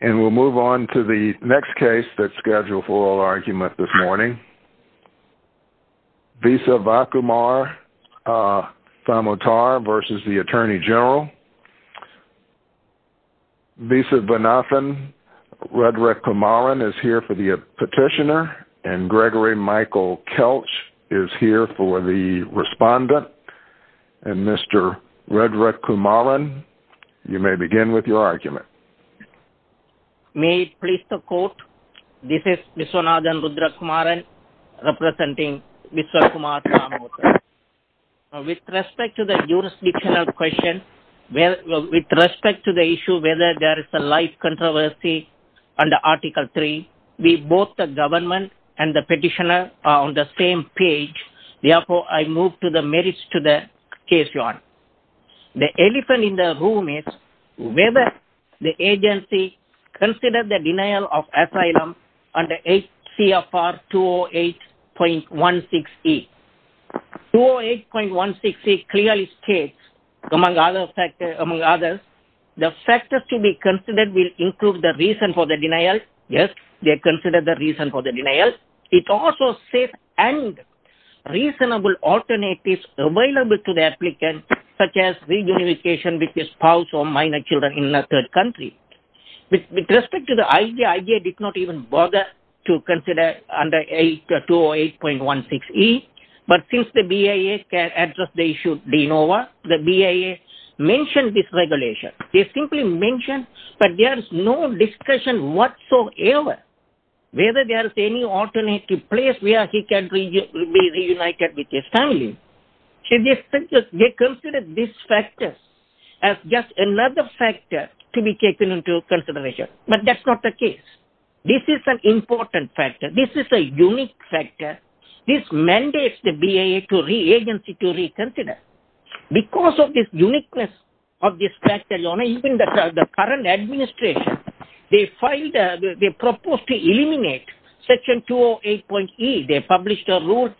And we'll move on to the next case that's scheduled for oral argument this morning. Visavakumar Thamotar v. U.S. Attorney General. Visavanathan Redrekumaran is here for the petitioner, and Gregory Michael Kelch is here for the respondent. And Mr. Redrekumaran, you may begin with your argument. May it please the court, this is Visavanathan Redrekumaran representing Visavakumar Thamotar. With respect to the jurisdictional question, with respect to the issue whether there is a live controversy under Article 3, we both the government and the petitioner are on the same page, therefore I move to the merits to the case your honor. The elephant in the room is whether the agency considers the denial of asylum under HCFR 208.16e. 208.16e clearly states, among others, the factors to be considered will include the reason for the denial. Yes, they consider the reason for the denial. It also states any reasonable alternatives available to applicants, such as reunification with a spouse or minor children in a third country. With respect to the idea, I did not even bother to consider under 208.16e, but since the BIA can address the issue, the BIA mentioned this regulation. They simply mentioned that there is no discussion whatsoever whether there is any alternative place where he can be reunited with his family. They consider these factors as just another factor to be taken into consideration, but that's not the case. This is an important factor. This is a unique factor. This mandates the BIA agency to reconsider. Because of this uniqueness of this factor, your honor, even the current administration, they filed, they proposed to eliminate Section 208.e. They published a notice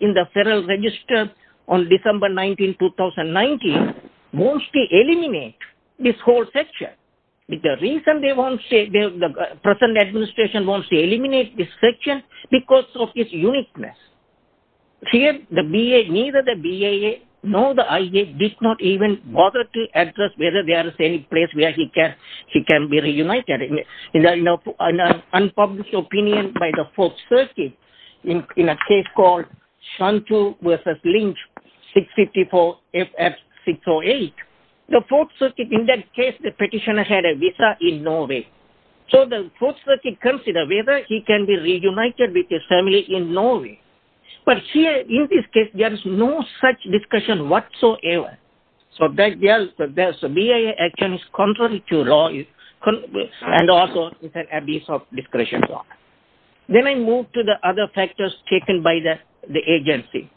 in the Federal Register on December 19, 2019. They want to eliminate this whole section. The reason the present administration wants to eliminate this section because of its uniqueness. Here, neither the BIA nor the IA did not even bother to address whether there is any place where he can be reunited. An unpublished opinion by the Fourth Circuit in a case called Shantu v. Lynch, 654 FF 608. The Fourth Circuit, in that case, the petitioner had a visa in Norway. So the Fourth Circuit considered whether he can be reunited with his family in contrary to law and also abuse of discretion. Then I move to the other factors taken by the agency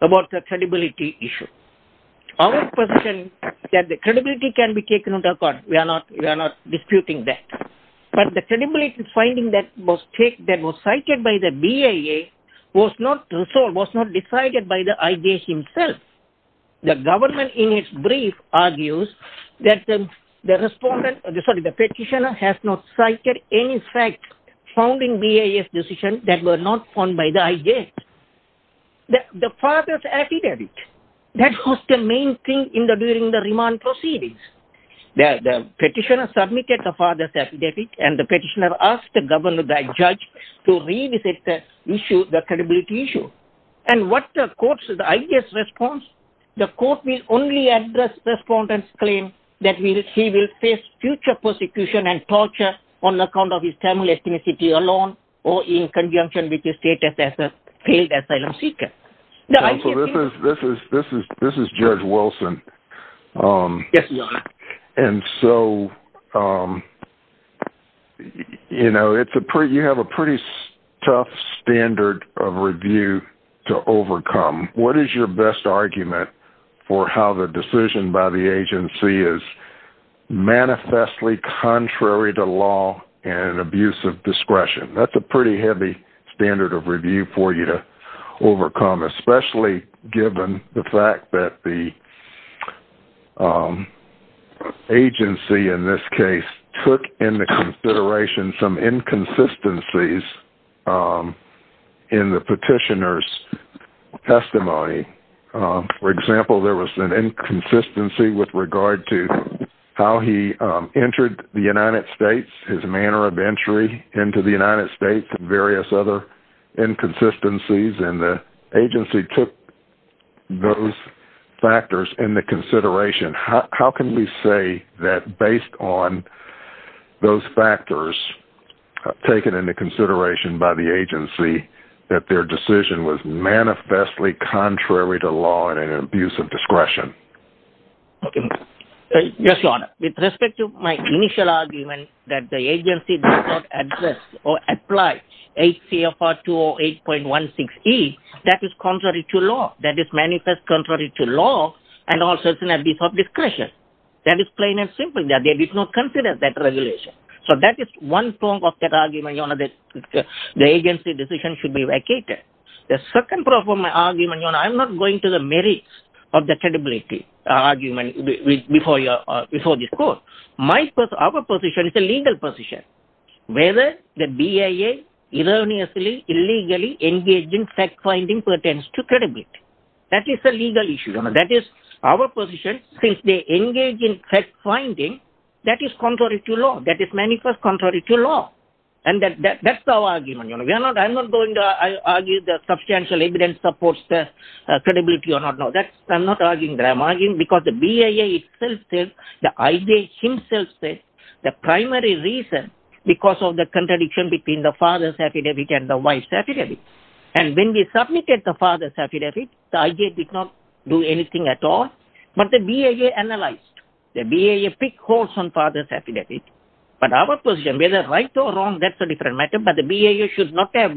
about the credibility issue. Our position is that the credibility can be taken into account. We are not disputing that. But the credibility finding that was cited by the BIA was not decided by the IJ himself. The petitioner has not cited any fact found in BIA's decision that was not found by the IJ. The father's affidavit, that was the main thing during the remand proceedings. The petitioner submitted the father's affidavit and the petitioner asked the judge to revisit the issue, the credibility issue. And what the court said, the IJ's response, the court will only address respondents' claim that he will face future persecution and torture on account of his family ethnicity alone or in conjunction with his status as a failed asylum seeker. This is Judge Wilson. You have a pretty tough standard of review to overcome. What is your best argument for how the decision by the agency is manifestly contrary to law and abuse of discretion? That's a pretty heavy standard of review for you to overcome, especially given the fact that the agency in this case took into consideration some inconsistencies in the petitioner's testimony. For example, there was an inconsistency with regard to how he entered the United States, his manner of entry into the United States, and various other inconsistencies. And the agency took those factors into consideration. How can we say that based on those factors taken into consideration by the agency that their decision was manifestly contrary to law and an abuse of discretion? Okay. Yes, Your Honor. With respect to my initial argument that the agency does not address or apply HCFR 208.16e, that is contrary to law, that is manifestly contrary to law, and also an abuse of discretion. That is plain and simple. They did not consider that regulation. So that is one form of that argument that the agency's decision should be vacated. The second part of my argument, Your Honor, I'm not going to the merits of the credibility argument before this court. Our position is a legal position, whether the BIA erroneously, illegally engaged in fact-finding pertains to credibility. That is a legal issue. That is our position. Since they engage in fact-finding, that is contrary to law. That is manifestly contrary to law. I'm not going to argue that substantial evidence supports the credibility or not. No, I'm not arguing that. I'm arguing because the BIA itself says, the IJ himself says, the primary reason is because of the contradiction between the father's affidavit and the wife's affidavit. And when we submitted the father's affidavit, the IJ did not do anything at all. But the BIA analyzed. The BIA picked holes on father's affidavit. But our position, whether right or wrong, that's a different matter. But the BIA should not have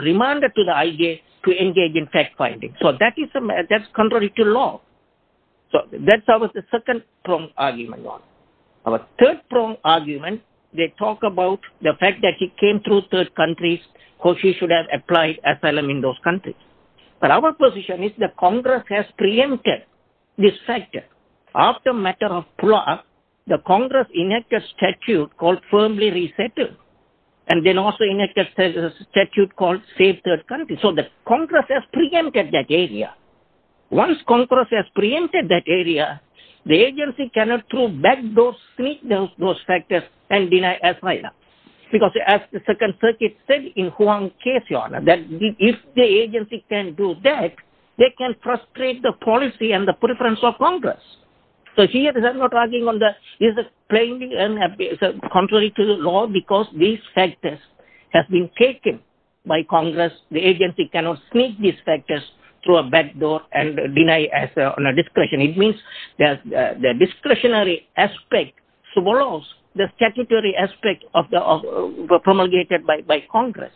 remanded to the IJ to engage in fact-finding. So that is contrary to law. So that's our second pronged argument. Our third pronged argument, they talk about the fact that he came through third countries, he should have applied asylum in those countries. But our position is that Congress has preempted this factor. After a matter of pull-up, the Congress enacted a statute called Save Third Countries. So that Congress has preempted that area. Once Congress has preempted that area, the agency cannot throw back those factors and deny asylum. Because as the Second Circuit said in Huang's case, Your Honor, that if the agency can do that, they can frustrate the policy and the preference of Congress. So here, I'm not arguing on that. This is by Congress. The agency cannot sneak these factors through a backdoor and deny asylum on a discretion. It means that the discretionary aspect swallows the statutory aspect of the promulgated by Congress.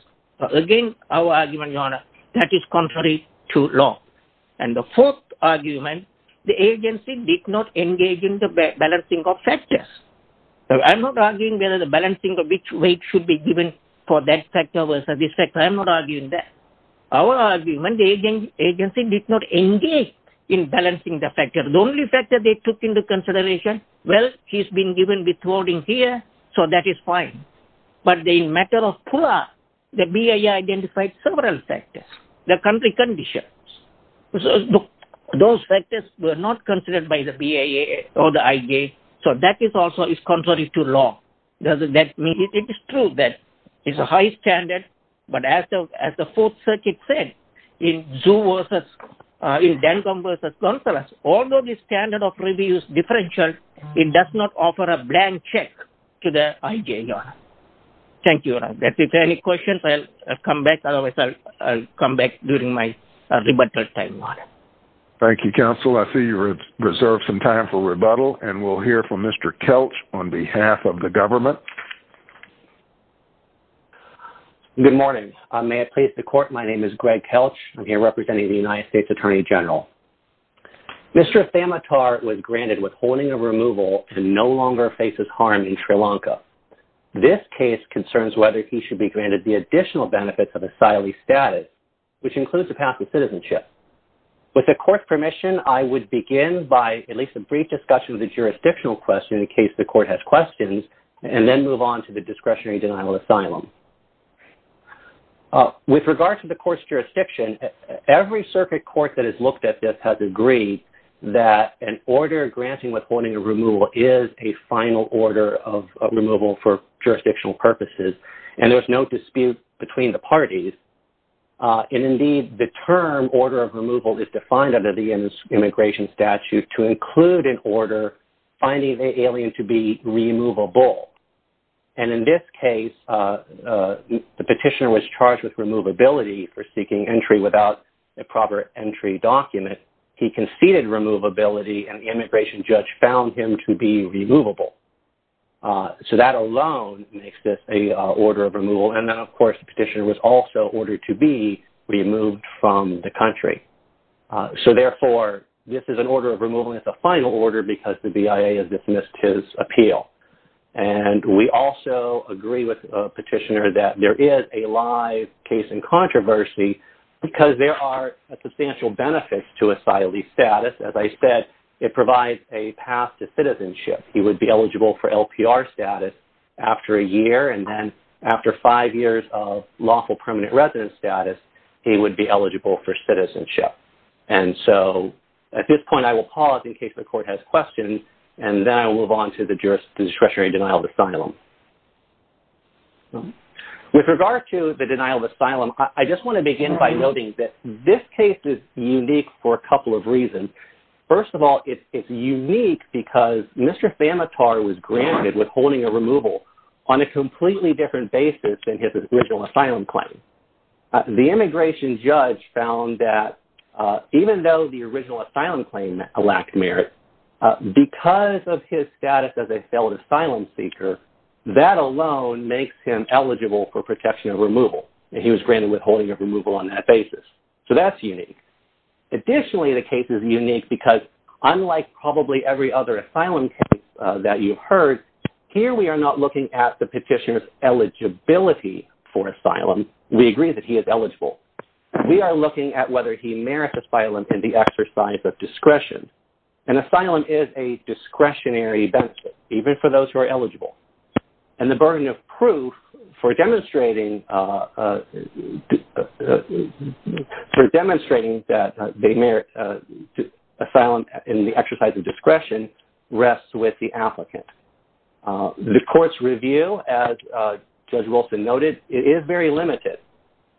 Again, our argument, Your Honor, that is contrary to law. And the fourth argument, the agency did not engage in the balancing of factors. I'm not arguing whether the balancing of which weight should be given for that factor versus this factor. I'm not arguing that. Our argument, the agency did not engage in balancing the factors. The only factor they took into consideration, well, he's been given withholding here, so that is fine. But in a matter of pull-up, the BIA identified several factors, the country conditions. Those factors were not considered by the BIA or the IG. So that is also contrary to law. It is true that it's a high standard. But as the Fourth Circuit said, in Dancombe versus Consolas, although the standard of review is differential, it does not offer a blank check to the IG, Your Honor. Thank you, Your Honor. If there are any questions, I'll come back. Otherwise, I'll come back during my rebuttal time, Your Honor. Thank you, Counsel. I see you've reserved some time for rebuttal, and we'll hear from Mr. Kelch on behalf of the government. Good morning. May I please the Court? My name is Greg Kelch. I'm here representing the United States Attorney General. Mr. Thamitar was granted withholding of removal and no longer faces harm in Sri Lanka. This case concerns whether he should be granted the additional benefits of With the Court's permission, I would begin by at least a brief discussion of the jurisdictional question in case the Court has questions, and then move on to the discretionary denial of asylum. With regard to the Court's jurisdiction, every circuit court that has looked at this has agreed that an order granting withholding of removal is a final order of removal for jurisdictional purposes, and there's no dispute between the parties. And indeed, the term order of removal is defined under the immigration statute to include an order finding the alien to be removable. And in this case, the petitioner was charged with removability for seeking entry without a proper entry document. He conceded removability, and the immigration judge found him to be removable. So that alone makes this an order of removal. And then, of course, petitioner was also ordered to be removed from the country. So therefore, this is an order of removal. It's a final order because the BIA has dismissed his appeal. And we also agree with the petitioner that there is a live case in controversy because there are substantial benefits to asylee status. As I said, it provides a path to citizenship. He would be eligible for LPR status after a year, and then after five years of lawful permanent residence status, he would be eligible for citizenship. And so at this point, I will pause in case the court has questions, and then I will move on to the discretionary denial of asylum. With regard to the denial of asylum, I just want to begin by noting that this case is unique for a couple of reasons. First of all, it's unique because Mr. Famitar was granted withholding removal on a completely different basis than his original asylum claim. The immigration judge found that even though the original asylum claim lacked merit, because of his status as a failed asylum seeker, that alone makes him eligible for protection of removal. He was granted withholding of removal on that basis. So that's unique. Additionally, the case is unique because unlike probably every other asylum case that you've heard, here we are not looking at the petitioner's eligibility for asylum. We agree that he is eligible. We are looking at whether he merits asylum in the exercise of discretion. And asylum is a discretionary benefit, even for those who are eligible. And the burden of proof for demonstrating that they merit asylum in the exercise of discretion rests with the applicant. The court's review, as Judge Wilson noted, is very limited.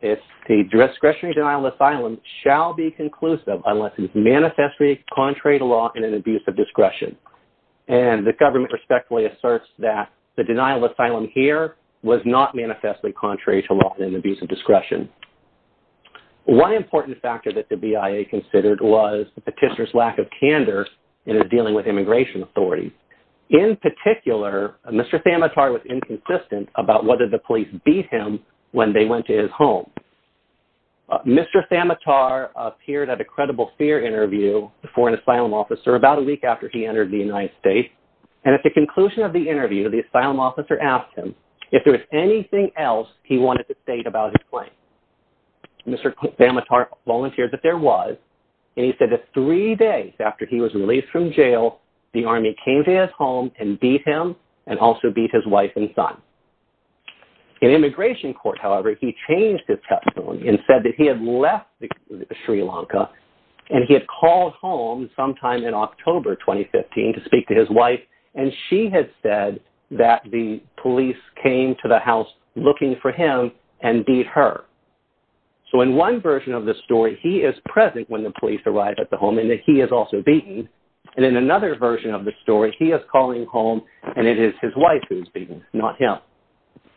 The discretionary denial of asylum shall be conclusive unless it is manifestly contrary to law and an abuse of discretion. And the government respectfully asserts that the denial of asylum here was not manifestly contrary to law and abuse of discretion. One important factor that the BIA considered was the petitioner's lack of candor in his dealing with immigration authorities. In particular, Mr. Samatar was inconsistent about whether the police beat him when they went to his home. Mr. Samatar appeared at a credible fear interview for an asylum officer about a week after he entered the United States. And at the conclusion of the interview, the asylum officer asked him if there was anything else he wanted to state about his claim. Mr. Samatar volunteered that there was. And he said that three days after he was released from jail, the army came to his home and beat him and also beat his wife and son. In immigration court, however, he changed his testimony and said that he had left Sri Lanka and he had called home sometime in October 2015 to speak to his wife. And she had said that the police came to the house looking for him and beat her. So in one version of the story, he is present when the police arrive at the home and that he is also beaten. And in another version of the story, he is calling home and it is his wife who's beaten, not him.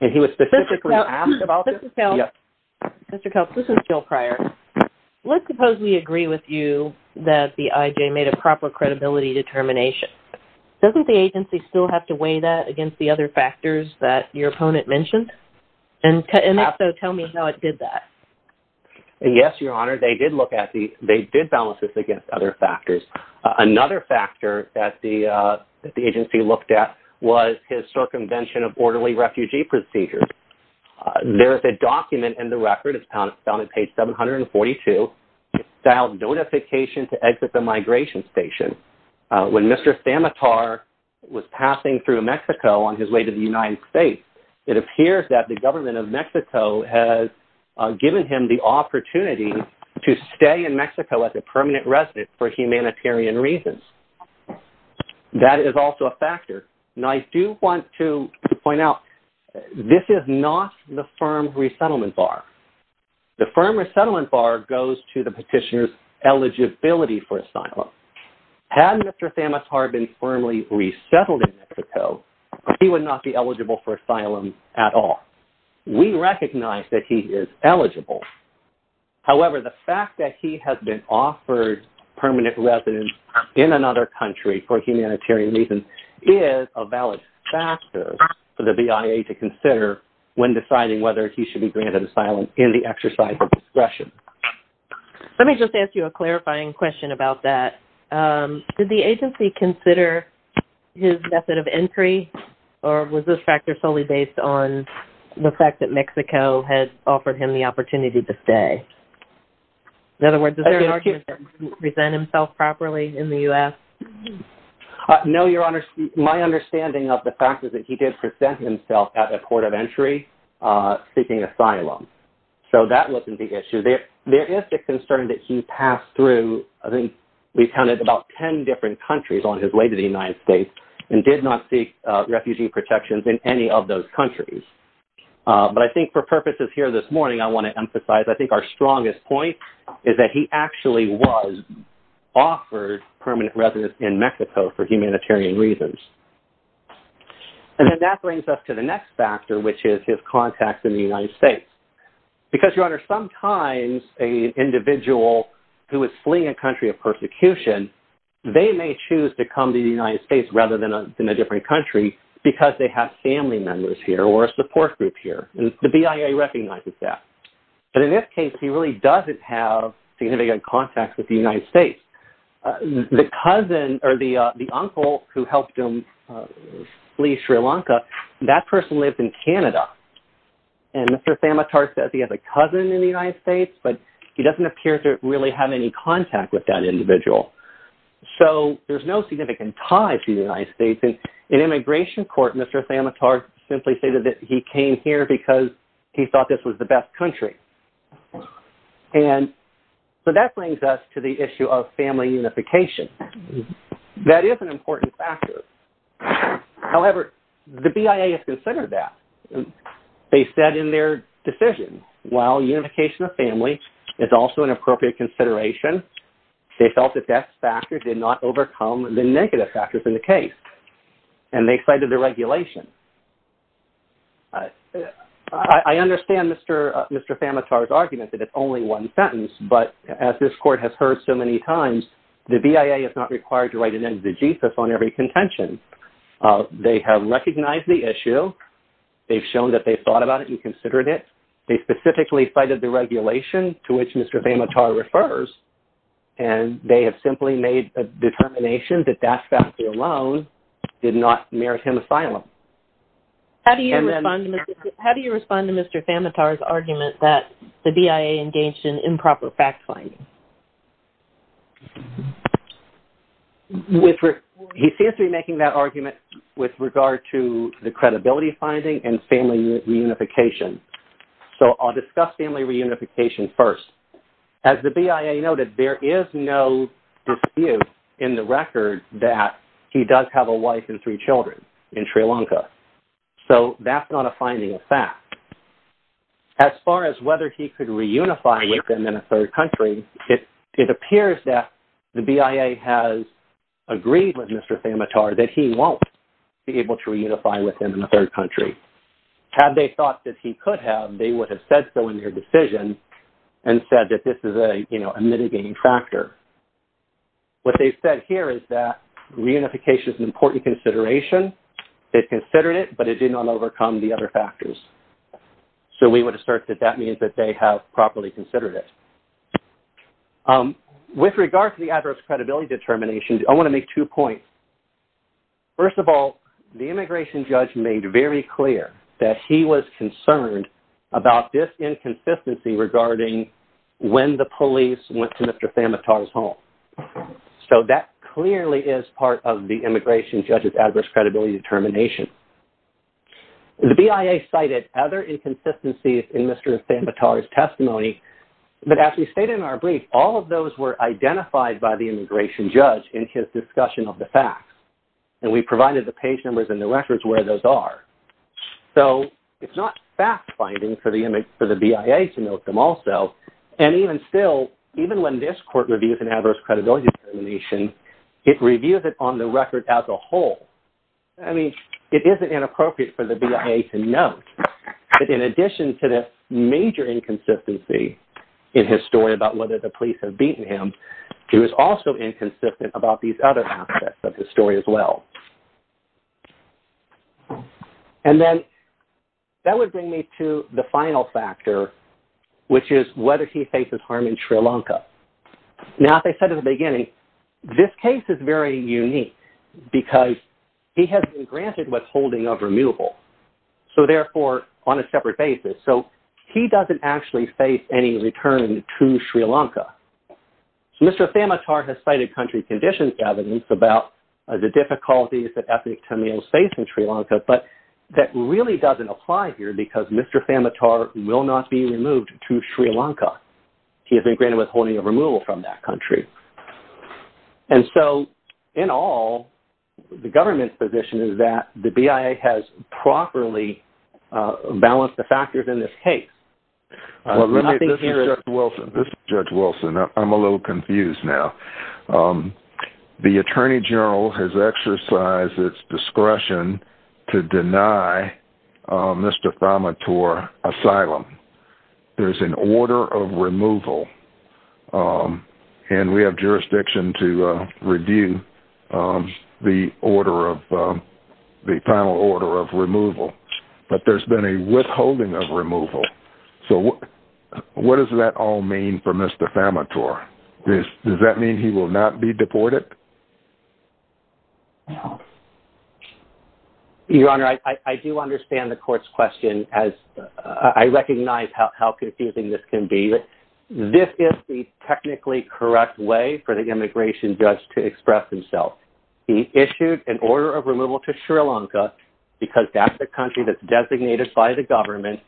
And he was specifically asked about this. Mr. Kelce, this is Jill Pryor. Let's suppose we agree with you that the IJ made a proper credibility determination. Doesn't the agency still have to weigh that against the other factors that your opponent mentioned? And also tell me how it did that. Yes, Your Honor, they did look at the, they did balance this against other factors. Another factor that the agency looked at was his circumvention of orderly refugee procedures. There is a document in the record, it's found on page 742, filed notification to exit the migration station. When Mr. Samatar was passing through Mexico on his way to the United States, it appears that the government of Mexico has given him the opportunity to stay in Mexico as a permanent resident for humanitarian reasons. And that is also a factor. And I do want to point out, this is not the firm resettlement bar. The firm resettlement bar goes to the petitioner's eligibility for asylum. Had Mr. Samatar been firmly resettled in Mexico, he would not be eligible for asylum at all. We recognize that he is eligible. However, the fact that he has been offered permanent residence in another country for humanitarian reasons is a valid factor for the BIA to consider when deciding whether he should be granted asylum in the exercise of discretion. Let me just ask you a clarifying question about that. Did the agency consider his method of offering him the opportunity to stay? In other words, is there an argument that he didn't present himself properly in the U.S.? No, Your Honor. My understanding of the fact is that he did present himself at a port of entry, seeking asylum. So that wasn't the issue. There is a concern that he passed through, I think we counted about 10 different countries on his way to the United States, and did not seek refugee protections in any of those countries. But I think for purposes here this morning, I want to emphasize, I think our strongest point is that he actually was offered permanent residence in Mexico for humanitarian reasons. And then that brings us to the next factor, which is his contact in the United States. Because, Your Honor, sometimes an individual who is fleeing a country of persecution, they may choose to come to the United States rather than a different country, because they have family members here or a support group here. And the BIA recognizes that. But in this case, he really doesn't have significant contacts with the United States. The cousin or the uncle who helped him flee Sri Lanka, that person lives in Canada. And Mr. Samatar says he has a cousin in the United States, but he doesn't appear to really have any contact with that individual. So there's no significant ties to the United States. In immigration court, Mr. Samatar simply stated that he came here because he thought this was the best country. And so that brings us to the issue of family unification. That is an important factor. However, the BIA has considered that. They said in their decision, while unification of family is also an appropriate consideration, they felt that that factor did not overcome the negative factors in the case. And they cited the regulation. I understand Mr. Samatar's argument that it's only one sentence. But as this court has heard so many times, the BIA is not required to write an end to the Jesus on every contention. They have recognized the issue. They've shown that they've thought about it and considered it. They specifically cited the regulation to which Mr. Samatar refers. And they have simply made determination that that factor alone did not merit him asylum. How do you respond to Mr. Samatar's argument that the BIA engaged in improper fact finding? He seems to be making that argument with regard to the credibility finding and family reunification. So I'll discuss family reunification first. As the BIA noted, there is no dispute in the record that he does have a wife and three children in Sri Lanka. So that's not a finding of fact. As far as whether he could reunify with them in a third country, it appears that the BIA has agreed with Mr. Samatar that he won't be able to reunify with them in a third country. Had they thought that he could have, they would have said so in their decision and said that this is a mitigating factor. What they've said here is that reunification is an important consideration. They've considered it, but it did not overcome the other factors. So we would assert that that means that they have properly considered it. With regard to the adverse credibility determination, I want to make two points. First of all, the immigration judge made very clear that he was concerned about this inconsistency regarding when the police went to Mr. Samatar's home. So that clearly is part of the immigration judge's adverse credibility determination. The BIA cited other inconsistencies in Mr. Samatar's testimony, but as we stated in our brief, all of those were identified by the facts. And we provided the page numbers and the records where those are. So it's not fact-finding for the BIA to note them also. And even still, even when this court reviews an adverse credibility determination, it reviews it on the record as a whole. I mean, it isn't inappropriate for the BIA to note that in addition to the major inconsistency in his story about whether the police have beaten him, he was also inconsistent about these other aspects of his story as well. And then that would bring me to the final factor, which is whether he faces harm in Sri Lanka. Now, as I said at the beginning, this case is very unique because he has been granted withholding of removal. So therefore, on a separate basis. So he doesn't actually face any return to Sri Lanka. So Mr. Samatar has cited country conditions evidence about the difficulties that ethnic Tamils face in Sri Lanka, but that really doesn't apply here because Mr. Samatar will not be removed to Sri Lanka. He has been granted withholding of removal from that country. And so in all, the government's position is that the BIA has properly balanced the factors in this case. This is Judge Wilson. I'm a little confused now. The attorney general has exercised its discretion to deny Mr. Samatar asylum. There's an order of removal and we have jurisdiction to review the order of the final order of removal, but there's been a withholding of removal. So what does that all mean for Mr. Samatar? Does that mean he will not be deported? Your Honor, I do understand the court's question as I recognize how confusing this can be. This is the technically correct way for the immigration judge to express himself. He issued an order of removal to Sri Lanka because that's the country that's designated by the government.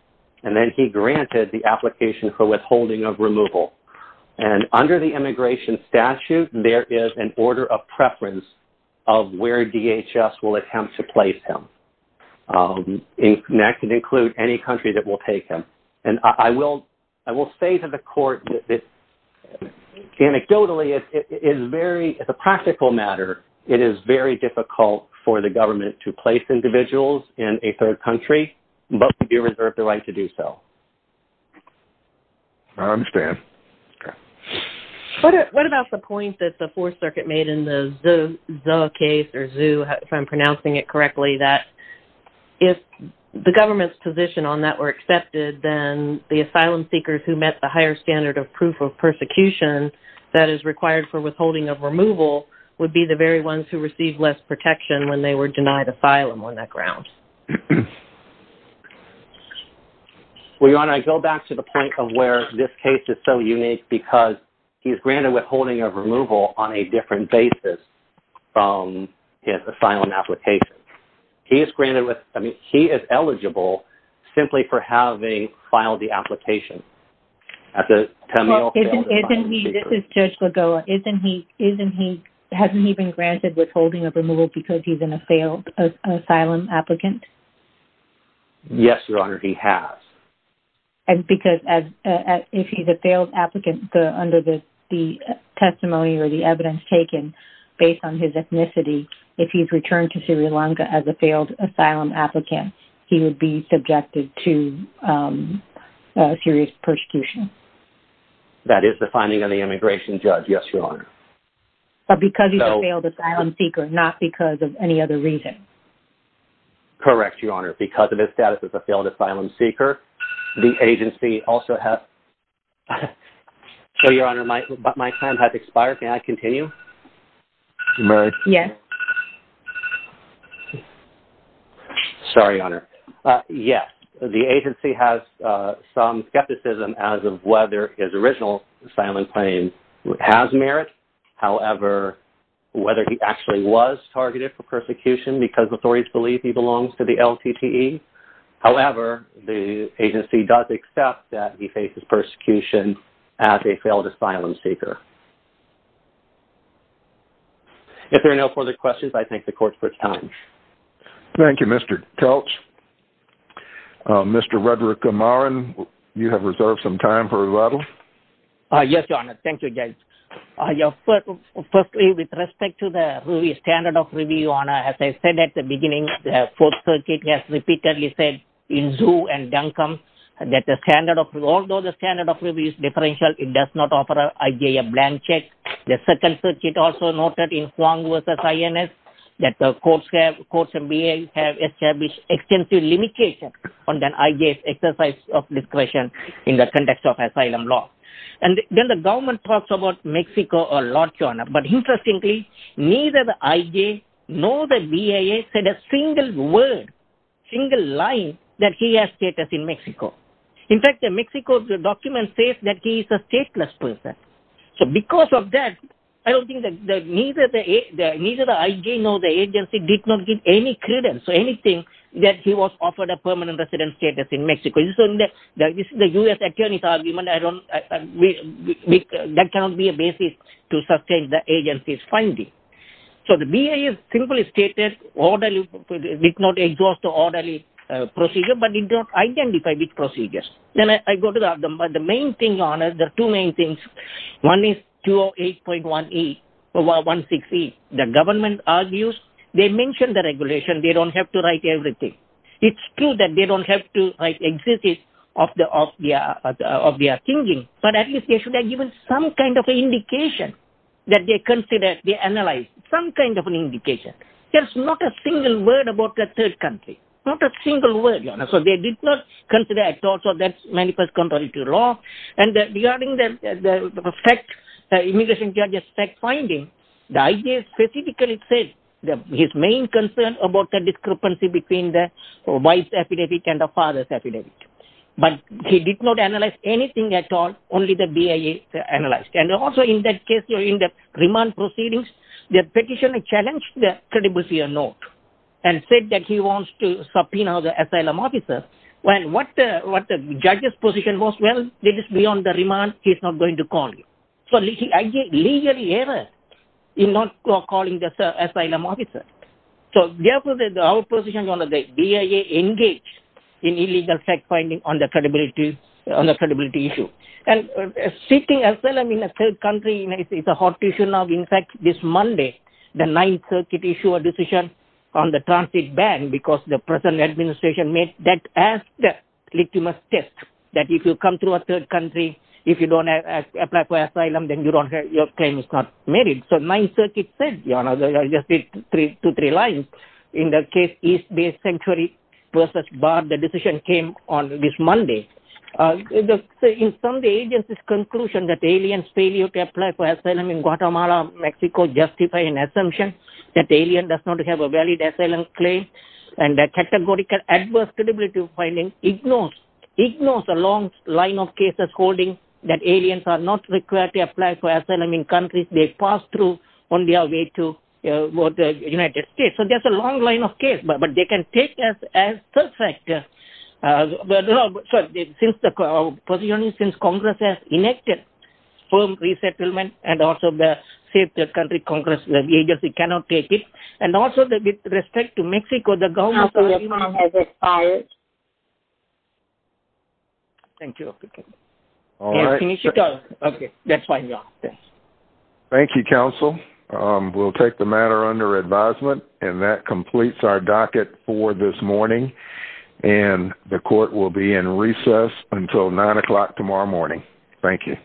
And then he granted the application for withholding of removal. And under the immigration statute, there is an order of preference of where DHS will attempt to place him. That can include any country that will take him. And I will say to the court that anecdotally, it's a practical matter. It is very difficult for the government to place individuals in a third country, but we do reserve the right to do so. I understand. Okay. What about the point that the Fourth Circuit made in the Zuh case or Zuh, if I'm pronouncing it correctly, that if the government's position on that were accepted, then the asylum seekers who met the higher standard of proof of persecution that is required for withholding of removal would be the very ones who received less protection when they were denied asylum on that because he is granted withholding of removal on a different basis from his asylum application. He is granted with, I mean, he is eligible simply for having filed the application. This is Judge Lagoa. Hasn't he been granted withholding of removal because he's a failed asylum applicant? Yes, Your Honor, he has. And because if he's a failed applicant under the testimony or the evidence taken based on his ethnicity, if he's returned to Sri Lanka as a failed asylum applicant, he would be subjected to serious persecution. That is the finding of the immigration judge. Yes, Your Honor. But because he's a failed asylum seeker, not because of any other reason. Correct, Your Honor. Because of his status as a failed asylum seeker, the agency also has... So, Your Honor, my time has expired. Can I continue? You may. Yes. Sorry, Your Honor. Yes, the agency has some skepticism as of whether his original asylum claim has merit. However, whether he actually was targeted for persecution because authorities believe he belongs to the LTTE. However, the agency does accept that he faces persecution as a failed asylum seeker. If there are no further questions, I thank the court for its time. Thank you, Mr. Kelch. Mr. Rudrakumaran, you have reserved some time for rebuttal. Yes, Your Honor. Thank you, Judge. Firstly, with respect to the standard of review, Your Honor, as I said at the beginning, the Fourth Circuit has repeatedly said in Zhu and Duncombe that although the standard of review is differential, it does not offer IJ a blank check. The Second Circuit also noted in Huang v. INS that the courts have established extensive limitations on the IJ's exercise of discretion in the context of asylum law. And then the government talks about a lot, Your Honor. But interestingly, neither the IJ nor the BIA said a single word, single line that he has status in Mexico. In fact, the Mexico document says that he is a stateless person. So because of that, I don't think that neither the IJ nor the agency did not give any credence or anything that he was offered a permanent residence status in Mexico. This is a U.S. attorney's argument. That cannot be a basis to sustain the agency's finding. So the BIA simply stated, did not exhaust an orderly procedure, but did not identify which procedures. Then I go to the main thing, Your Honor. There are two main things. One is 208.16E. The government argues, they mention the regulation. They don't have to exist of their thinking. But at least they should have given some kind of indication that they consider, they analyze some kind of an indication. There's not a single word about the third country. Not a single word, Your Honor. So they did not consider at all. So that's manifest contrary to law. And regarding the fact, the immigration judge's fact finding, the IJ specifically said that his main concern about the discrepancy between the epidemic and the father's epidemic. But he did not analyze anything at all. Only the BIA analyzed. And also in that case, in the remand proceedings, the petitioner challenged the credibility of note and said that he wants to subpoena the asylum officer. Well, what the judge's position was, well, it is beyond the remand. He's not going to call you. So the IJ legally errors in not calling the asylum officer. So therefore, our position on the BIA engaged in illegal fact finding on the credibility issue. And seeking asylum in a third country is a hot issue now. In fact, this Monday, the Ninth Circuit issued a decision on the transit ban because the present administration made that as the litmus test, that if you come to a third country, if you don't apply for asylum, then your claim is not merit. So Ninth Circuit said, you know, I just did two, three lines in the case East Bay Sanctuary versus Bard. The decision came on this Monday. In some of the agency's conclusion that aliens failure to apply for asylum in Guatemala, Mexico justify an assumption that the alien does not have a valid asylum claim. And the categorical adverse credibility finding ignores the long line of cases holding that aliens are not required to apply for asylum in countries they pass through on their way to the United States. So there's a long line of case, but they can take us as perfect. Since the position since Congress has enacted firm resettlement and also the safe country Congress, the agency cannot take it. And also with respect to Mexico, the government has expired. Thank you. Okay. All right. Okay. That's fine. Yeah. Thanks. Thank you, counsel. We'll take the matter under advisement. And that completes our docket for this morning. And the court will be in recess until nine o'clock tomorrow morning. Thank you.